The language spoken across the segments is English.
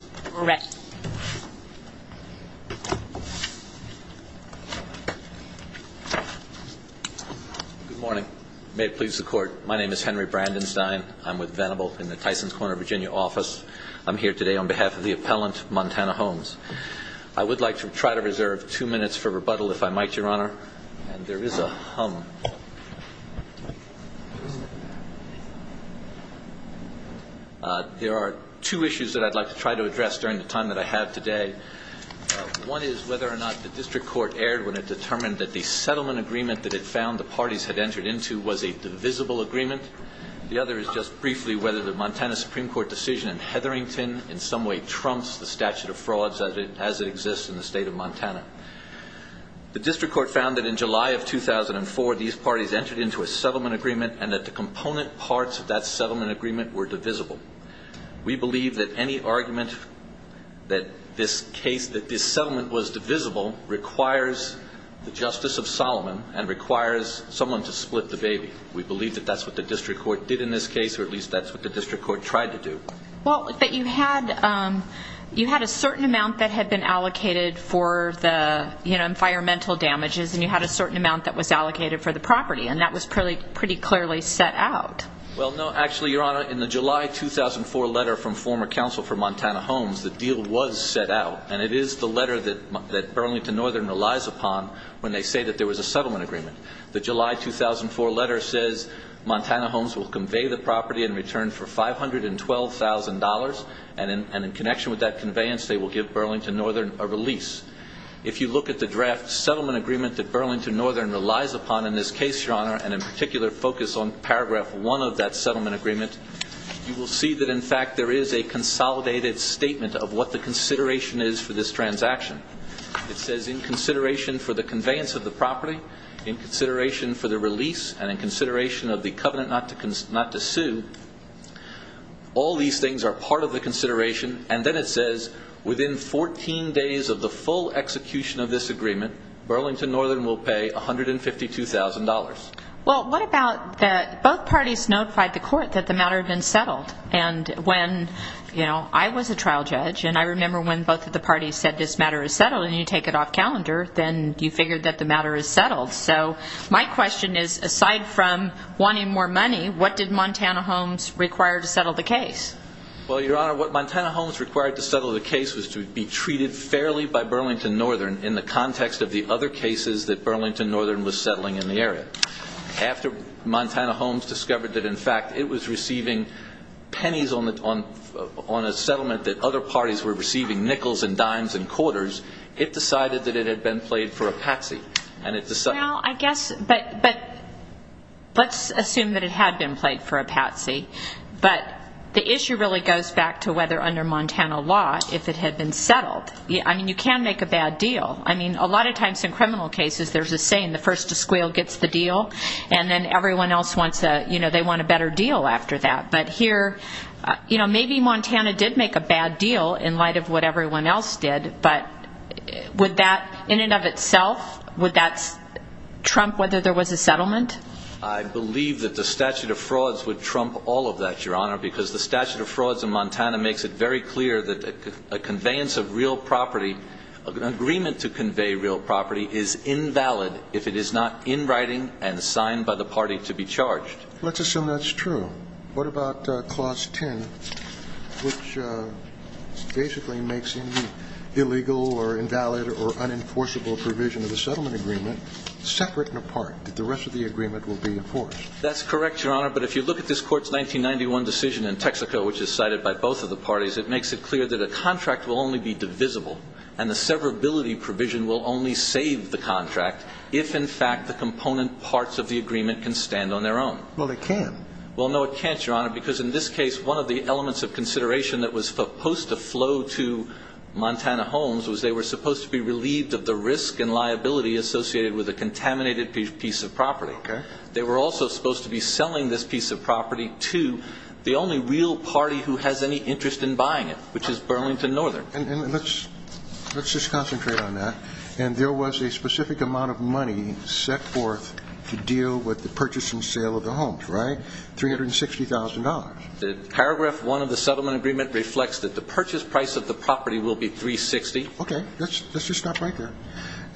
Good morning. May it please the court. My name is Henry Brandenstein. I'm with Venable in the Tysons Corner, Virginia office. I'm here today on behalf of the appellant, Montana Homes. I would like to try to reserve two minutes for rebuttal if I might, Your Honor. And there is a hum. There are two issues that I'd like to try to address during the time that I have today. One is whether or not the district court erred when it determined that the settlement agreement that it found the parties had entered into was a divisible agreement. The other is just briefly whether the Montana Supreme Court decision in Hetherington in some way trumps the statute of of 2004 these parties entered into a settlement agreement and that the component parts of that settlement agreement were divisible. We believe that any argument that this case, that this settlement was divisible requires the justice of Solomon and requires someone to split the baby. We believe that that's what the district court did in this case, or at least that's what the district court tried to do. Well, that you had a certain amount that had been allocated for environmental damages and you had a certain amount that was allocated for the property, and that was pretty clearly set out. Well, no. Actually, Your Honor, in the July 2004 letter from former counsel for Montana Homes, the deal was set out, and it is the letter that Burlington Northern relies upon when they say that there was a settlement agreement. The July 2004 letter says Montana Homes will convey the property in return for $512,000, and in connection with that if you look at the draft settlement agreement that Burlington Northern relies upon in this case, Your Honor, and in particular focus on paragraph one of that settlement agreement, you will see that in fact there is a consolidated statement of what the consideration is for this transaction. It says in consideration for the conveyance of the property, in consideration for the release, and in consideration of the covenant not to sue, all these things are part of the consideration, and then it says within 14 days of the full execution of this agreement, Burlington Northern will pay $152,000. Well, what about that both parties notified the court that the matter had been settled, and when, you know, I was a trial judge, and I remember when both of the parties said this matter is settled, and you take it off calendar, then you figured that the matter is settled. So my question is, aside from wanting more money, what did Montana Homes require to settle the case? Well, Your Honor, what Montana Homes required to settle the case was to be treated fairly by Burlington Northern in the context of the other cases that Burlington Northern was settling in the area. After Montana Homes discovered that in fact it was receiving pennies on a settlement that other parties were receiving, nickels and dimes and quarters, it decided that it had been played for a patsy, and it decided... Well, I guess, but let's assume that it had been played for a patsy, but the issue really goes back to whether under Montana law, if it had been settled. I mean, you can make a bad deal. I mean, a lot of times in criminal cases, there's a saying, the first to squeal gets the deal, and then everyone else wants a, you know, they want a better deal after that. But here, you know, maybe Montana did make a bad deal in light of what everyone else did, but would that in and of itself, would that trump whether there was a settlement? I believe that the statute of frauds would trump all of that, Your Honor, because the statute of frauds in Montana makes it very clear that a conveyance of real property, an agreement to convey real property, is invalid if it is not in writing and signed by the party to be charged. Let's assume that's true. What about Clause 10, which basically makes any illegal or invalid or unenforceable provision of the settlement agreement separate and apart, that the rest of the agreement will be enforced? That's correct, Your Honor, but if you look at this Court's 1991 decision in Texaco, which is cited by both of the parties, it makes it clear that a contract will only be divisible, and the severability provision will only save the contract if, in fact, the component parts of the agreement can stand on their own. Well, they can. Well, no, it can't, Your Honor, because in this case, one of the elements of consideration that was supposed to flow to Montana Homes was they were supposed to of the risk and liability associated with a contaminated piece of property. They were also supposed to be selling this piece of property to the only real party who has any interest in buying it, which is Burlington Northern. And let's just concentrate on that. And there was a specific amount of money set forth to deal with the purchase and sale of the homes, right? $360,000. The Paragraph 1 of the settlement agreement reflects that the purchase price of the property will be $360,000. Okay. Let's just stop right there.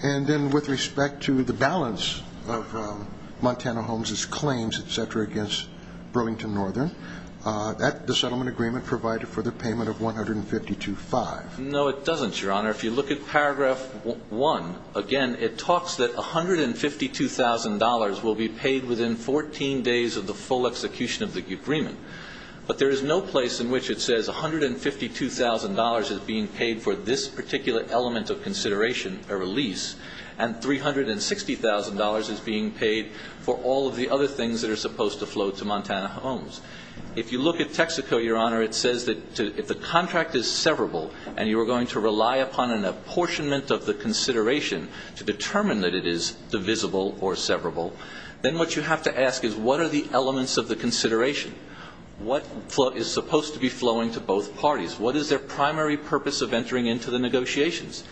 And then with respect to the balance of Montana Homes' claims, et cetera, against Burlington Northern, that the settlement agreement provided for the payment of $152,500. No, it doesn't, Your Honor. If you look at Paragraph 1, again, it talks that $152,000 will be paid within 14 days of the full execution of the particular element of consideration, a release, and $360,000 is being paid for all of the other things that are supposed to flow to Montana Homes. If you look at Texaco, Your Honor, it says that if the contract is severable and you are going to rely upon an apportionment of the consideration to determine that it is divisible or severable, then what you have to ask is what are the elements of the consideration? What is supposed to be flowing to both parties? What is their primary purpose of entering into the negotiations?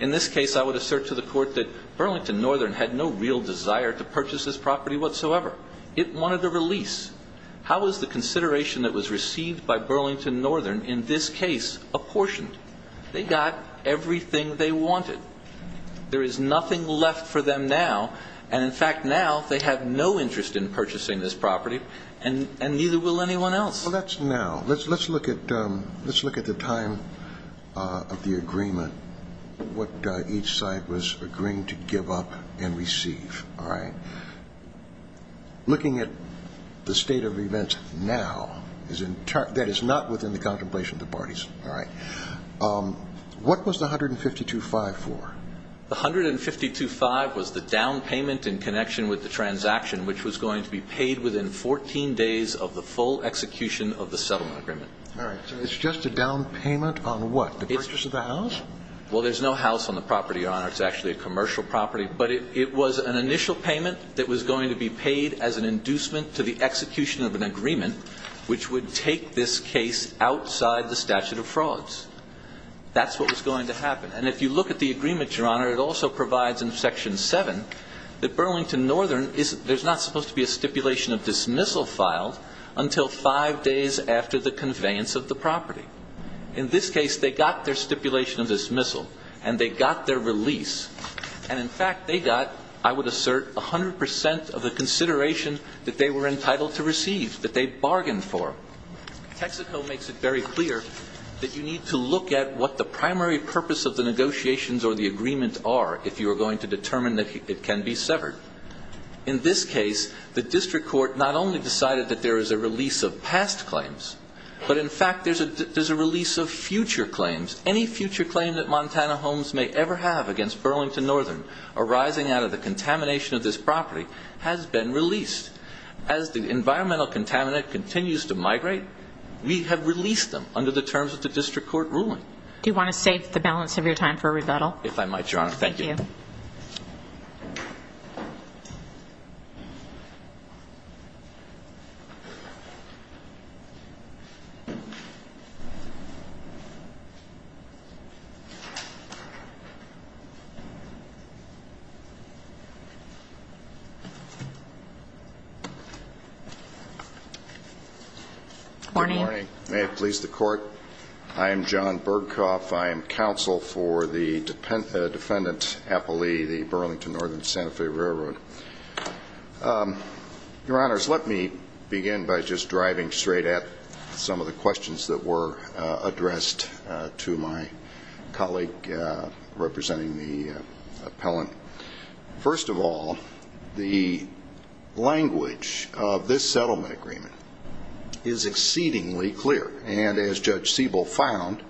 In this case, I would assert to the Court that Burlington Northern had no real desire to purchase this property whatsoever. It wanted a release. How is the consideration that was received by Burlington Northern in this case apportioned? They got everything they wanted. There is nothing left for them now. And in fact, now, they have no interest in purchasing this property, and neither will anyone else. That's now. Let's look at the time of the agreement, what each side was agreeing to give up and receive. Looking at the state of events now, that is not within the contemplation of the parties. What was the $152,500 for? The $152,500 was the down payment in connection with the settlement agreement. All right. So it's just a down payment on what? The purchase of the house? Well, there's no house on the property, Your Honor. It's actually a commercial property. But it was an initial payment that was going to be paid as an inducement to the execution of an agreement which would take this case outside the statute of frauds. That's what was going to happen. And if you look at the agreement, Your Honor, it also provides in Section 7 that Burlington Northern is – there's not supposed to be a stipulation of dismissal until five days after the conveyance of the property. In this case, they got their stipulation of dismissal, and they got their release. And in fact, they got, I would assert, 100 percent of the consideration that they were entitled to receive, that they bargained for. Texaco makes it very clear that you need to look at what the primary purpose of the negotiations or the agreement are if you are going to determine that it can be severed. In this case, the district court not only decided that there is a release of past claims, but in fact, there's a release of future claims. Any future claim that Montana Homes may ever have against Burlington Northern arising out of the contamination of this property has been released. As the environmental contaminant continues to migrate, we have released them under the terms of the district court ruling. Do you want to save the balance of your time for a rebuttal? If I might, Your Honor. Thank you. Good morning. Good morning. May it please the court. I am John Bergkopf. I am counsel for the defendant, Applee, the Burlington Northern Santa Fe Railroad. Your Honors, let me begin by just driving straight at some of the questions that were addressed to my colleague representing the district court. The language of this settlement agreement is exceedingly clear, and as Judge Siebel found,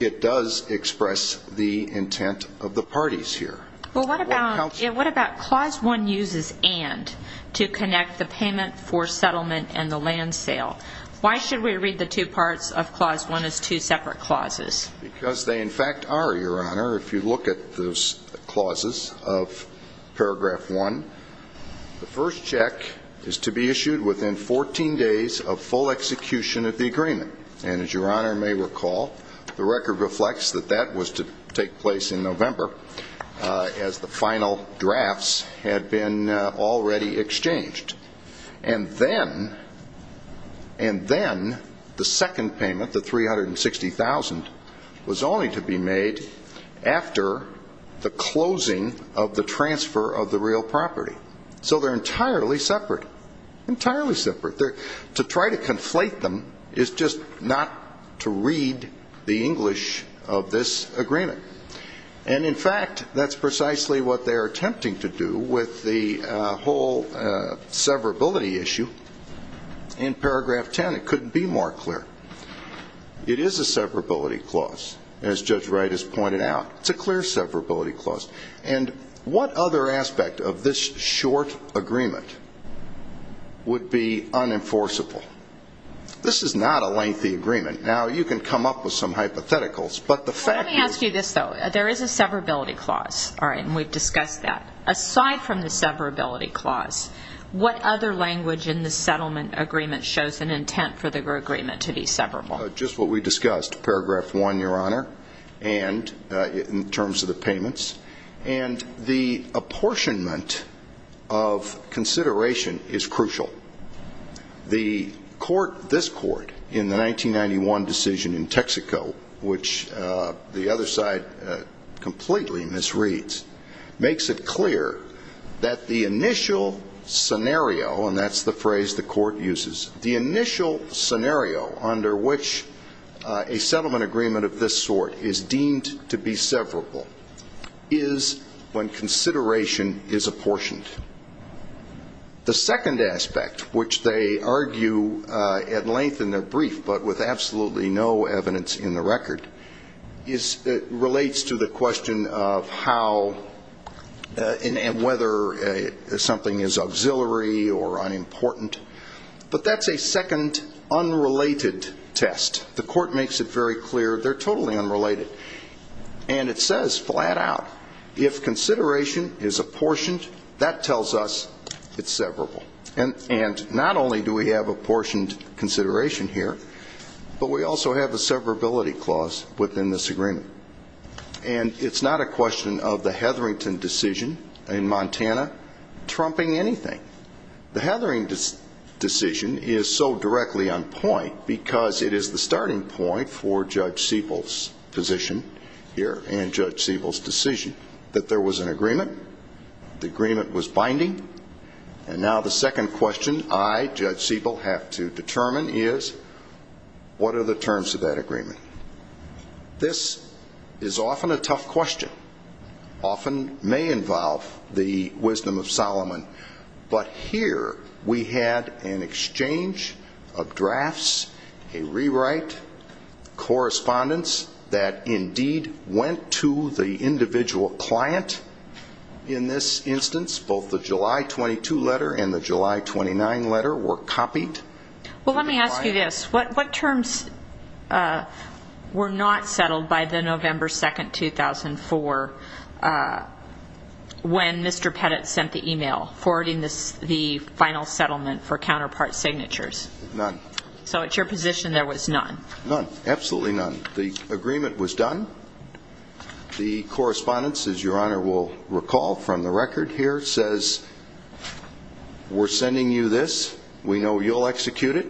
it does express the intent of the parties here. What about clause one uses and to connect the payment for settlement and the land sale? Why should we read the two parts of clause one as two separate clauses? Because they in fact are, Your Honor, if you look at those clauses of paragraph one, the first check is to be issued within 14 days of full execution of the agreement. And as Your Honor may recall, the record reflects that that was to take place in November as the final drafts had been already exchanged. And then the second payment, the closing of the transfer of the real property. So they're entirely separate. Entirely separate. To try to conflate them is just not to read the English of this agreement. And in fact, that's precisely what they're attempting to do with the whole severability issue in paragraph 10. It couldn't be more clear. It is a severability clause, as Judge Wright has pointed out. It's severability clause. And what other aspect of this short agreement would be unenforceable? This is not a lengthy agreement. Now, you can come up with some hypotheticals, but the fact Let me ask you this, though. There is a severability clause. All right. And we've discussed that. Aside from the severability clause, what other language in the settlement agreement shows an intent for the agreement to be severable? Just what we discussed. Paragraph one, Your Honor. And in terms of the payments. And the apportionment of consideration is crucial. The court, this court, in the 1991 decision in Texaco, which the other side completely misreads, makes it clear that the initial scenario, and that's the phrase the court uses. The initial scenario under which a settlement agreement of this sort is deemed to be severable is when consideration is apportioned. The second aspect, which they argue at length in their brief, but with absolutely no evidence in record, relates to the question of how and whether something is auxiliary or unimportant. But that's a second unrelated test. The court makes it very clear they're totally unrelated. And it says flat out, if consideration is apportioned, that tells us it's severable. And not only do we have apportioned consideration here, but we also have a severability clause within this agreement. And it's not a question of the Hetherington decision in Montana trumping anything. The Hetherington decision is so directly on point because it is the starting point for Judge Siebel's position here and Judge Siebel's decision that there was an agreement, the agreement was binding. And now the second question I, Judge Siebel, have to determine is what are the terms of that agreement? This is often a tough question, often may involve the wisdom of Solomon. But here we had an exchange of drafts, a rewrite, correspondence that indeed went to the individual client. In this instance, both the July 22 letter and the July 29 letter were copied. Well, let me ask you this. What terms were not settled by the November 2, 2004, when Mr. Pettit sent the email forwarding the final settlement for counterpart signatures? None. So at your position there was none? None. Absolutely none. The agreement was done. The correspondence, as your Honor will recall from the record here, says, we're sending you this. We know you'll execute it.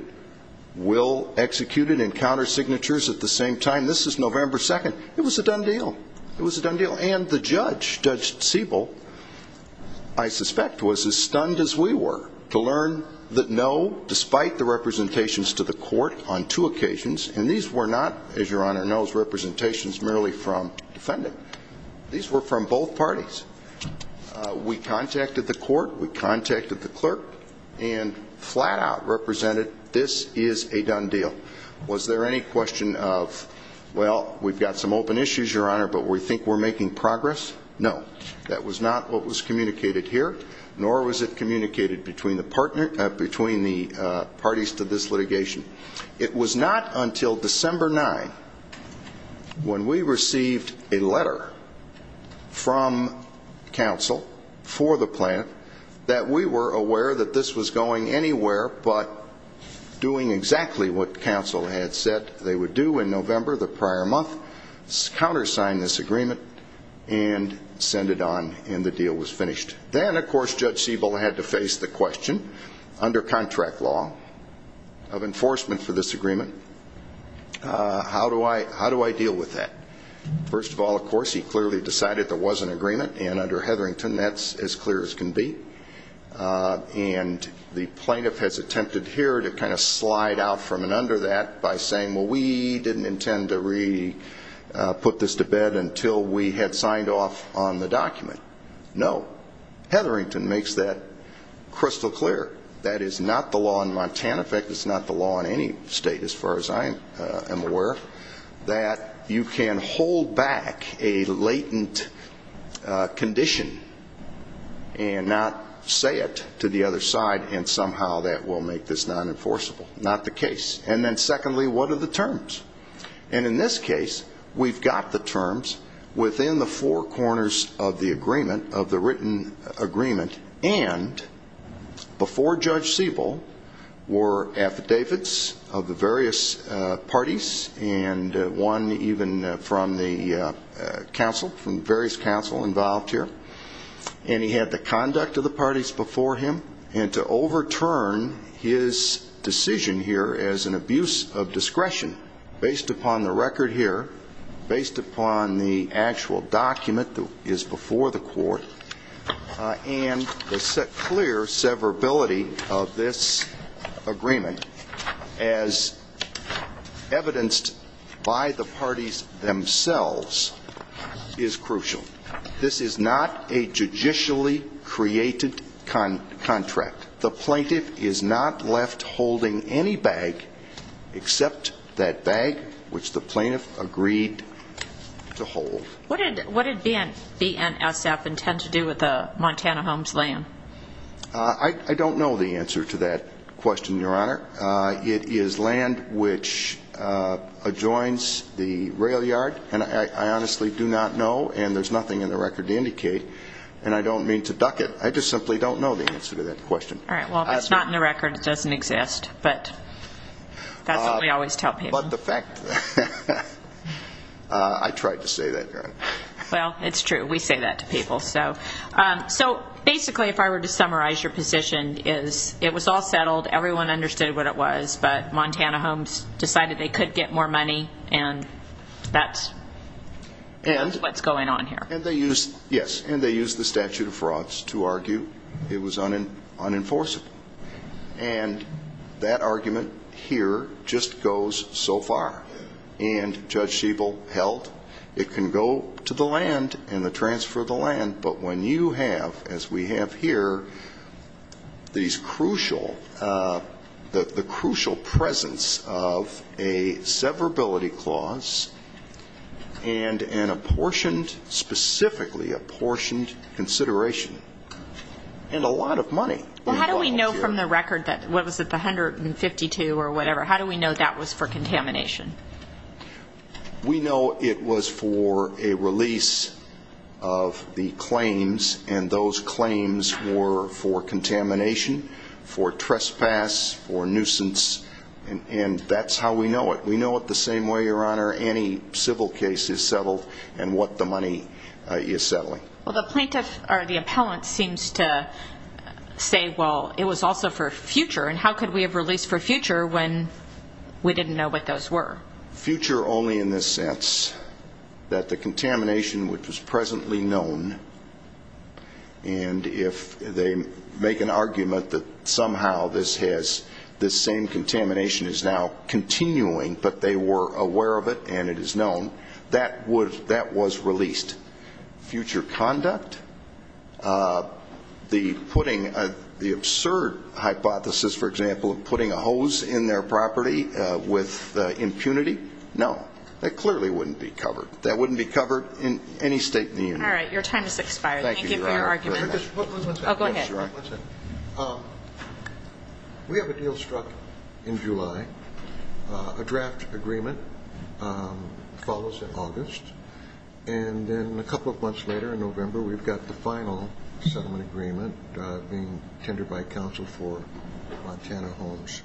We'll execute it and counter signatures at the same time. This is November 2. It was a done deal. It was a done deal. And the judge, Judge Siebel, I suspect was as stunned as we were to learn that no, despite the representations to the court on two occasions, and these were not, as your Honor knows, representations merely from defendant. These were from both parties. We contacted the court, we contacted the clerk, and flat out represented this is a done deal. Was there any question of, well, we've got some open issues, your Honor, but we think we're making progress? No. That was not was communicated here, nor was it communicated between the parties to this litigation. It was not until December 9, when we received a letter from counsel for the plan, that we were aware that this was going anywhere but doing exactly what counsel had said they would do in November, the prior month, countersign this agreement and send it on, and the deal was finished. Then, of course, Judge Siebel had to face the question under contract law of enforcement for this agreement, how do I deal with that? First of all, of course, he clearly decided there was an agreement, and under Hetherington, that's as clear as can be. And the plaintiff has attempted here to kind of slide out from and under that by saying, well, we didn't intend to re-put this to bed until we had signed off on the document. No. Hetherington makes that crystal clear. That is not the law in Montana. In fact, it's not the law in any state, as far as I am aware, that you can hold back a latent condition and not say it to the other side and somehow that will make this non-enforceable. Not the case. And then secondly, what are the terms? And in this case, we've got the terms within the four corners of the agreement, of the written agreement, and before Judge Siebel were affidavits of the various parties and one even from the various counsel involved here. And he had the conduct of the parties before him. And to overturn his decision here as an abuse of discretion based upon the record here, based upon the actual document that is before the court, and the clear severability of this agreement as evidenced by the parties themselves, is crucial. This is not a judicially created contract. The plaintiff is not left holding any bag which the plaintiff agreed to hold. What did BNSF intend to do with the Montana homes land? I don't know the answer to that question, Your Honor. It is land which adjoins the rail yard, and I honestly do not know, and there's nothing in the record to indicate, and I don't mean to duck it. I just simply don't know the answer to that question. All right. Well, if it's not in But that's what we always tell people. But the fact, I tried to say that, Your Honor. Well, it's true. We say that to people. So basically if I were to summarize your position is it was all settled, everyone understood what it was, but Montana homes decided they could get more money, and that's what's going on here. And they used, yes, and they used the statute of that argument here just goes so far. And Judge Schiebel held it can go to the land and the transfer of the land, but when you have, as we have here, these crucial, the crucial presence of a severability clause and an apportioned, specifically apportioned consideration, and a lot of money. Well, how do we know from the record that, what was it, the 152 or whatever, how do we know that was for contamination? We know it was for a release of the claims, and those claims were for contamination, for trespass, for nuisance, and that's how we know it. We know it the same way, Your Honor, any civil case is settled and what the money is settling. Well, the plaintiff or the appellant seems to say, well, it was also for future, and how could we have released for future when we didn't know what those were? Future only in this sense, that the contamination which was presently known, and if they make an argument that somehow this has, this same contamination is now continuing, but they were aware of it and it is known, that would, that was released. Future conduct, the putting, the absurd hypothesis, for example, of putting a hose in their property with impunity, no, that clearly wouldn't be covered. That wouldn't be covered in any state in the union. All right, your time has expired. Thank you for your argument. I'll go ahead. We have a deal struck in July, a draft agreement follows in August, and then a couple of months later in November, we've got the final settlement agreement being tendered by counsel for Montana Homes.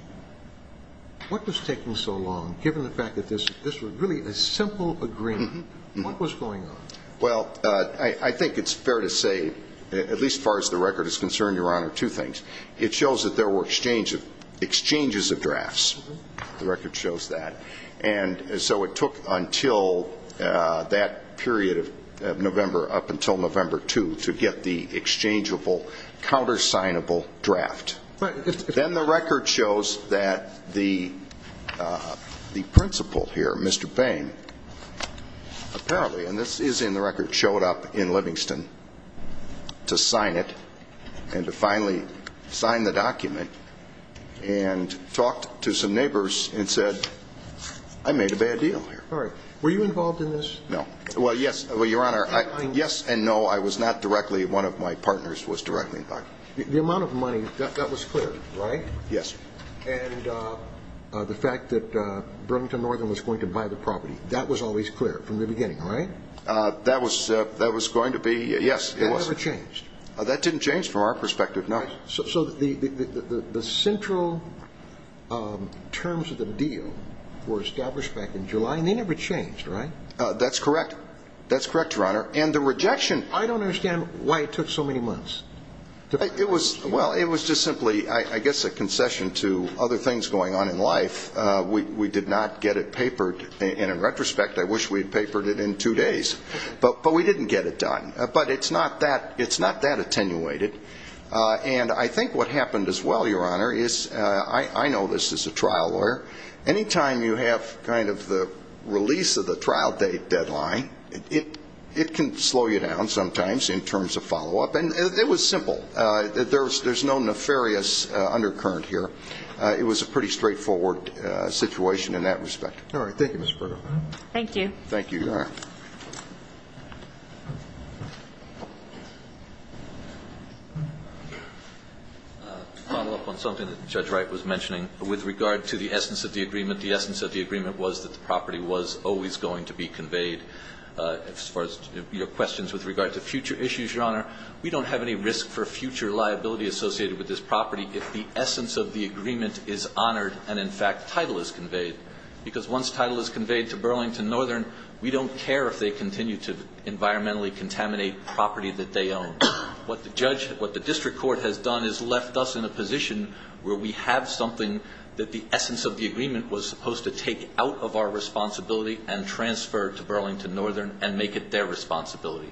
What was taking so long, given the fact that this was really a simple agreement? What was going on? Well, I think it's fair to say, at least as far as the record is concerned, your honor, two things. It shows that there were exchanges of drafts. The record shows that. And so it took until that period of November, up until November 2, to get the exchangeable, countersignable draft. Then the record shows that the principal here, Mr. Bain, apparently, and this is in the record, showed up in Livingston to sign it and to finally sign the document and talked to some neighbors and said, I made a bad deal here. All right. Were you involved in this? No. Well, yes. Well, your honor, yes and no, I was not directly, one of my partners was directly involved. The amount of money, that was clear, right? Yes. And the fact that Burlington Northern was going to buy the property, that was always clear from the beginning, right? That was going to be, yes. It never changed? That didn't change from our perspective, no. So the central terms of the deal were established back in July and they never changed, right? That's correct. That's correct, your honor. And the rejection... I don't understand why it took so many months. Well, it was just simply, I guess, a concession to other things going on in life. We did not get it papered and in retrospect, I wish we'd papered it in two days, but we didn't get it done, but it's not that attenuated. And I think what happened as well, your honor, is I know this as a trial lawyer, any time you have kind of the release of the trial date deadline, it can slow you down sometimes in terms of follow-up. And it was simple. There's no nefarious undercurrent here. It was a pretty straightforward situation in that respect. All right. Thank you, Ms. Perdo. Thank you. Thank you, your honor. A follow-up on something that Judge Wright was mentioning. With regard to the essence of the agreement, the essence of the agreement was that the property was always going to be conveyed. As far as your questions with regard to future issues, your honor, we don't have any risk for future liability associated with this property if the essence of the agreement is honored and in fact, title is conveyed. Because once title is conveyed to Burlington Northern, we don't care if they continue to environmentally contaminate property that they own. What the district court has done is left us in a position where we have something that the essence of the agreement was supposed to take out of our responsibility and transfer to Burlington Northern and make it their responsibility.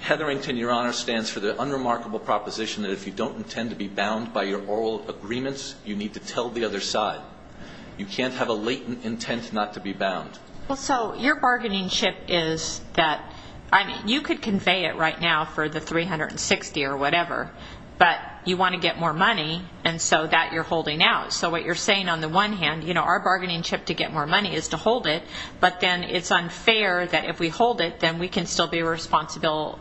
Hetherington, your honor, stands for the unremarkable proposition that if you don't intend to be bound by your oral agreements, you need to tell the other side. You can't have a latent intent not to be bound. Well, so your bargaining chip is that, I mean, you could convey it right now for the 360 or whatever, but you want to get more money and so that you're holding out. So what you're saying on the one hand, you know, our bargaining chip to get more money is to hold it, but then it's unfair that if we hold it, then we can still be responsible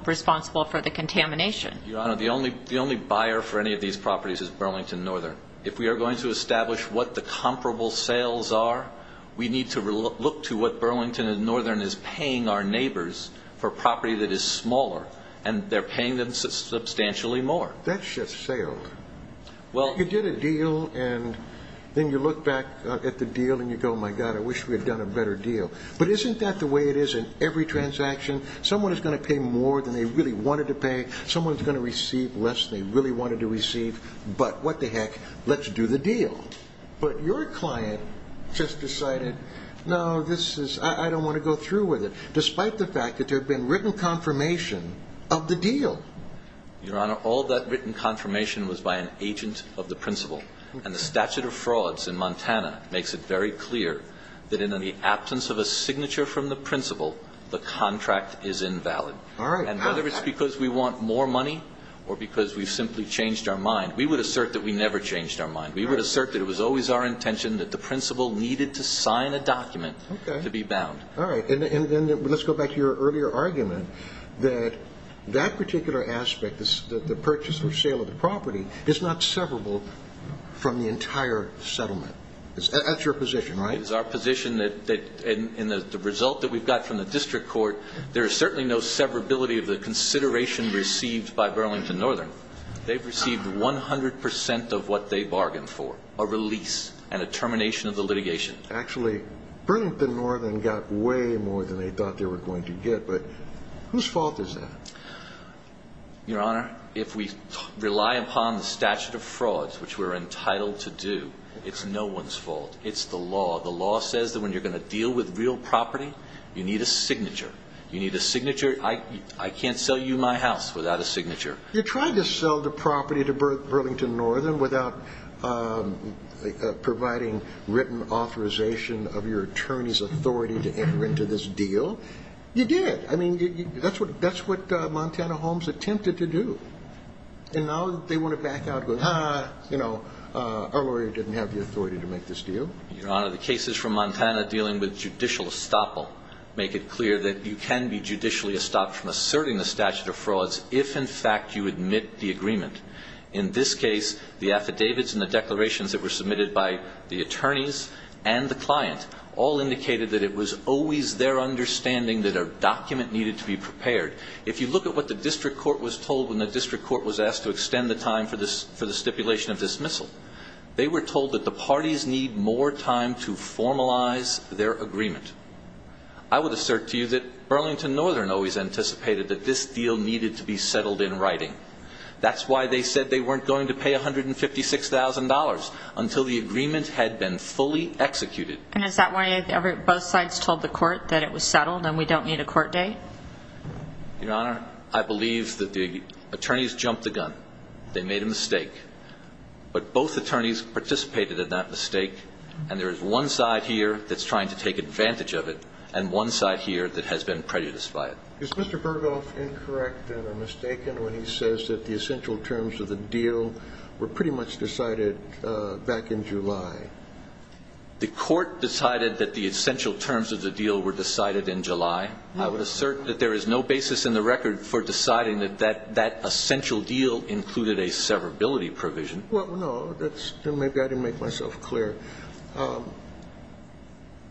for the contamination. Your honor, the only buyer for any of these properties is Burlington Northern. If we are going to establish what the comparable sales are, we need to look to what Burlington Northern is paying our neighbors for property that is smaller and they're paying them substantially more. That's just sales. You get a deal and then you look back at the deal and you go, my God, I wish we had done a better deal. But isn't that the way it is in every transaction? Someone is going to pay more than they really wanted to pay. Someone's going to receive less than they really wanted to receive. But what the heck, let's do the deal. But your client just decided, no, this is, I don't want to go through with it. Despite the fact that there have been written confirmation of the deal. Your honor, all that written confirmation was by an agent of the principal and the statute of frauds in Montana makes it very clear that in the absence of a signature from the principal, the contract is invalid. All right. And whether it's because we want more money or because we've simply changed our mind, we would assert that we never changed our mind. We would assert that it was always our intention that the principal needed to sign a document to be bound. All right. And then let's go back to your earlier argument that that particular aspect, the purchase or sale of the property is not severable from the entire settlement. That's your position, right? It's our position that in the result that we've got from the district court, there is certainly no severability of the consideration received by Burlington Northern. They've received 100% of what they bargained for, a release and a termination of the litigation. Actually, Burlington Northern got way more than they thought they were going to get. But whose fault is that? Your honor, if we rely upon the statute of frauds, which we're entitled to do, it's no one's fault. It's the law. The law says that when you're going to deal with real property, you need a signature. You need a signature. I can't sell you my house without a signature. You're trying to sell the property to Burlington Northern without providing written authorization of your attorney's authority to enter into this deal. You did. I mean, that's what Montana Homes attempted to do. And now they want to back out going, ah, you know, our lawyer didn't have the authority to make this deal. Your honor, the cases from Montana dealing with judicial estoppel make it clear that you can be judicially estoppel from asserting the statute of frauds if, in fact, you admit the agreement. In this case, the affidavits and the declarations that were submitted by the attorneys and the client all indicated that it was always their understanding that a document needed to be prepared. If you look at what the district court was told when the district court was asked to extend the time for the stipulation of dismissal, they were told that the parties need more time to formalize their agreement. I would assert to you that Burlington Northern always anticipated that this deal needed to be settled in writing. That's why they said they weren't going to pay $156,000 until the agreement had been fully executed. And is that why both sides told the court that it was settled and we don't need a court date? Your honor, I believe that the attorneys jumped the gun. They made a mistake. But both attorneys participated in that mistake. And there is one side here that's trying to take advantage of it. And one side here that has been prejudiced by it. Is Mr. Berghoff incorrect and mistaken when he says that the essential terms of the deal were pretty much decided back in July? The court decided that the essential terms of the deal were decided in July. I would assert that there is no basis in the record for deciding that that essential deal included a severability provision. Well, no, that's maybe I didn't make myself clear. But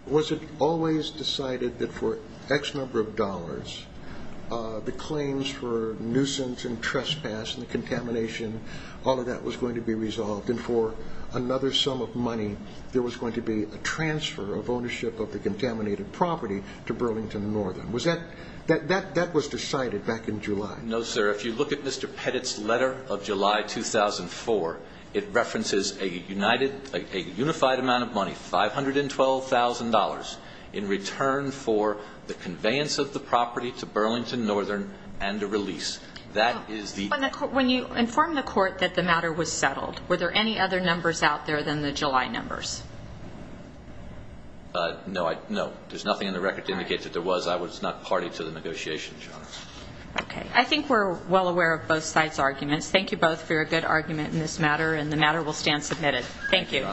was it always decided that for X number of dollars, the claims for nuisance and trespass and the contamination, all of that was going to be resolved. And for another sum of money, there was going to be a transfer of ownership of the contaminated property to Burlington Northern. Was that that that that was decided back in July? No, sir. If you look at Mr. Pettit's letter of July 2004, it references a united a unified amount of money, $512,000 in return for the conveyance of the property to Burlington Northern and the release. That is the when you inform the court that the matter was settled. Were there any other numbers out there than the July numbers? No, no, there's nothing in the record to indicate that there was. I was not party to the negotiations. OK, I think we're well aware of both sides arguments. Thank you both for a good argument in this matter, and the matter will stand submitted. Thank you.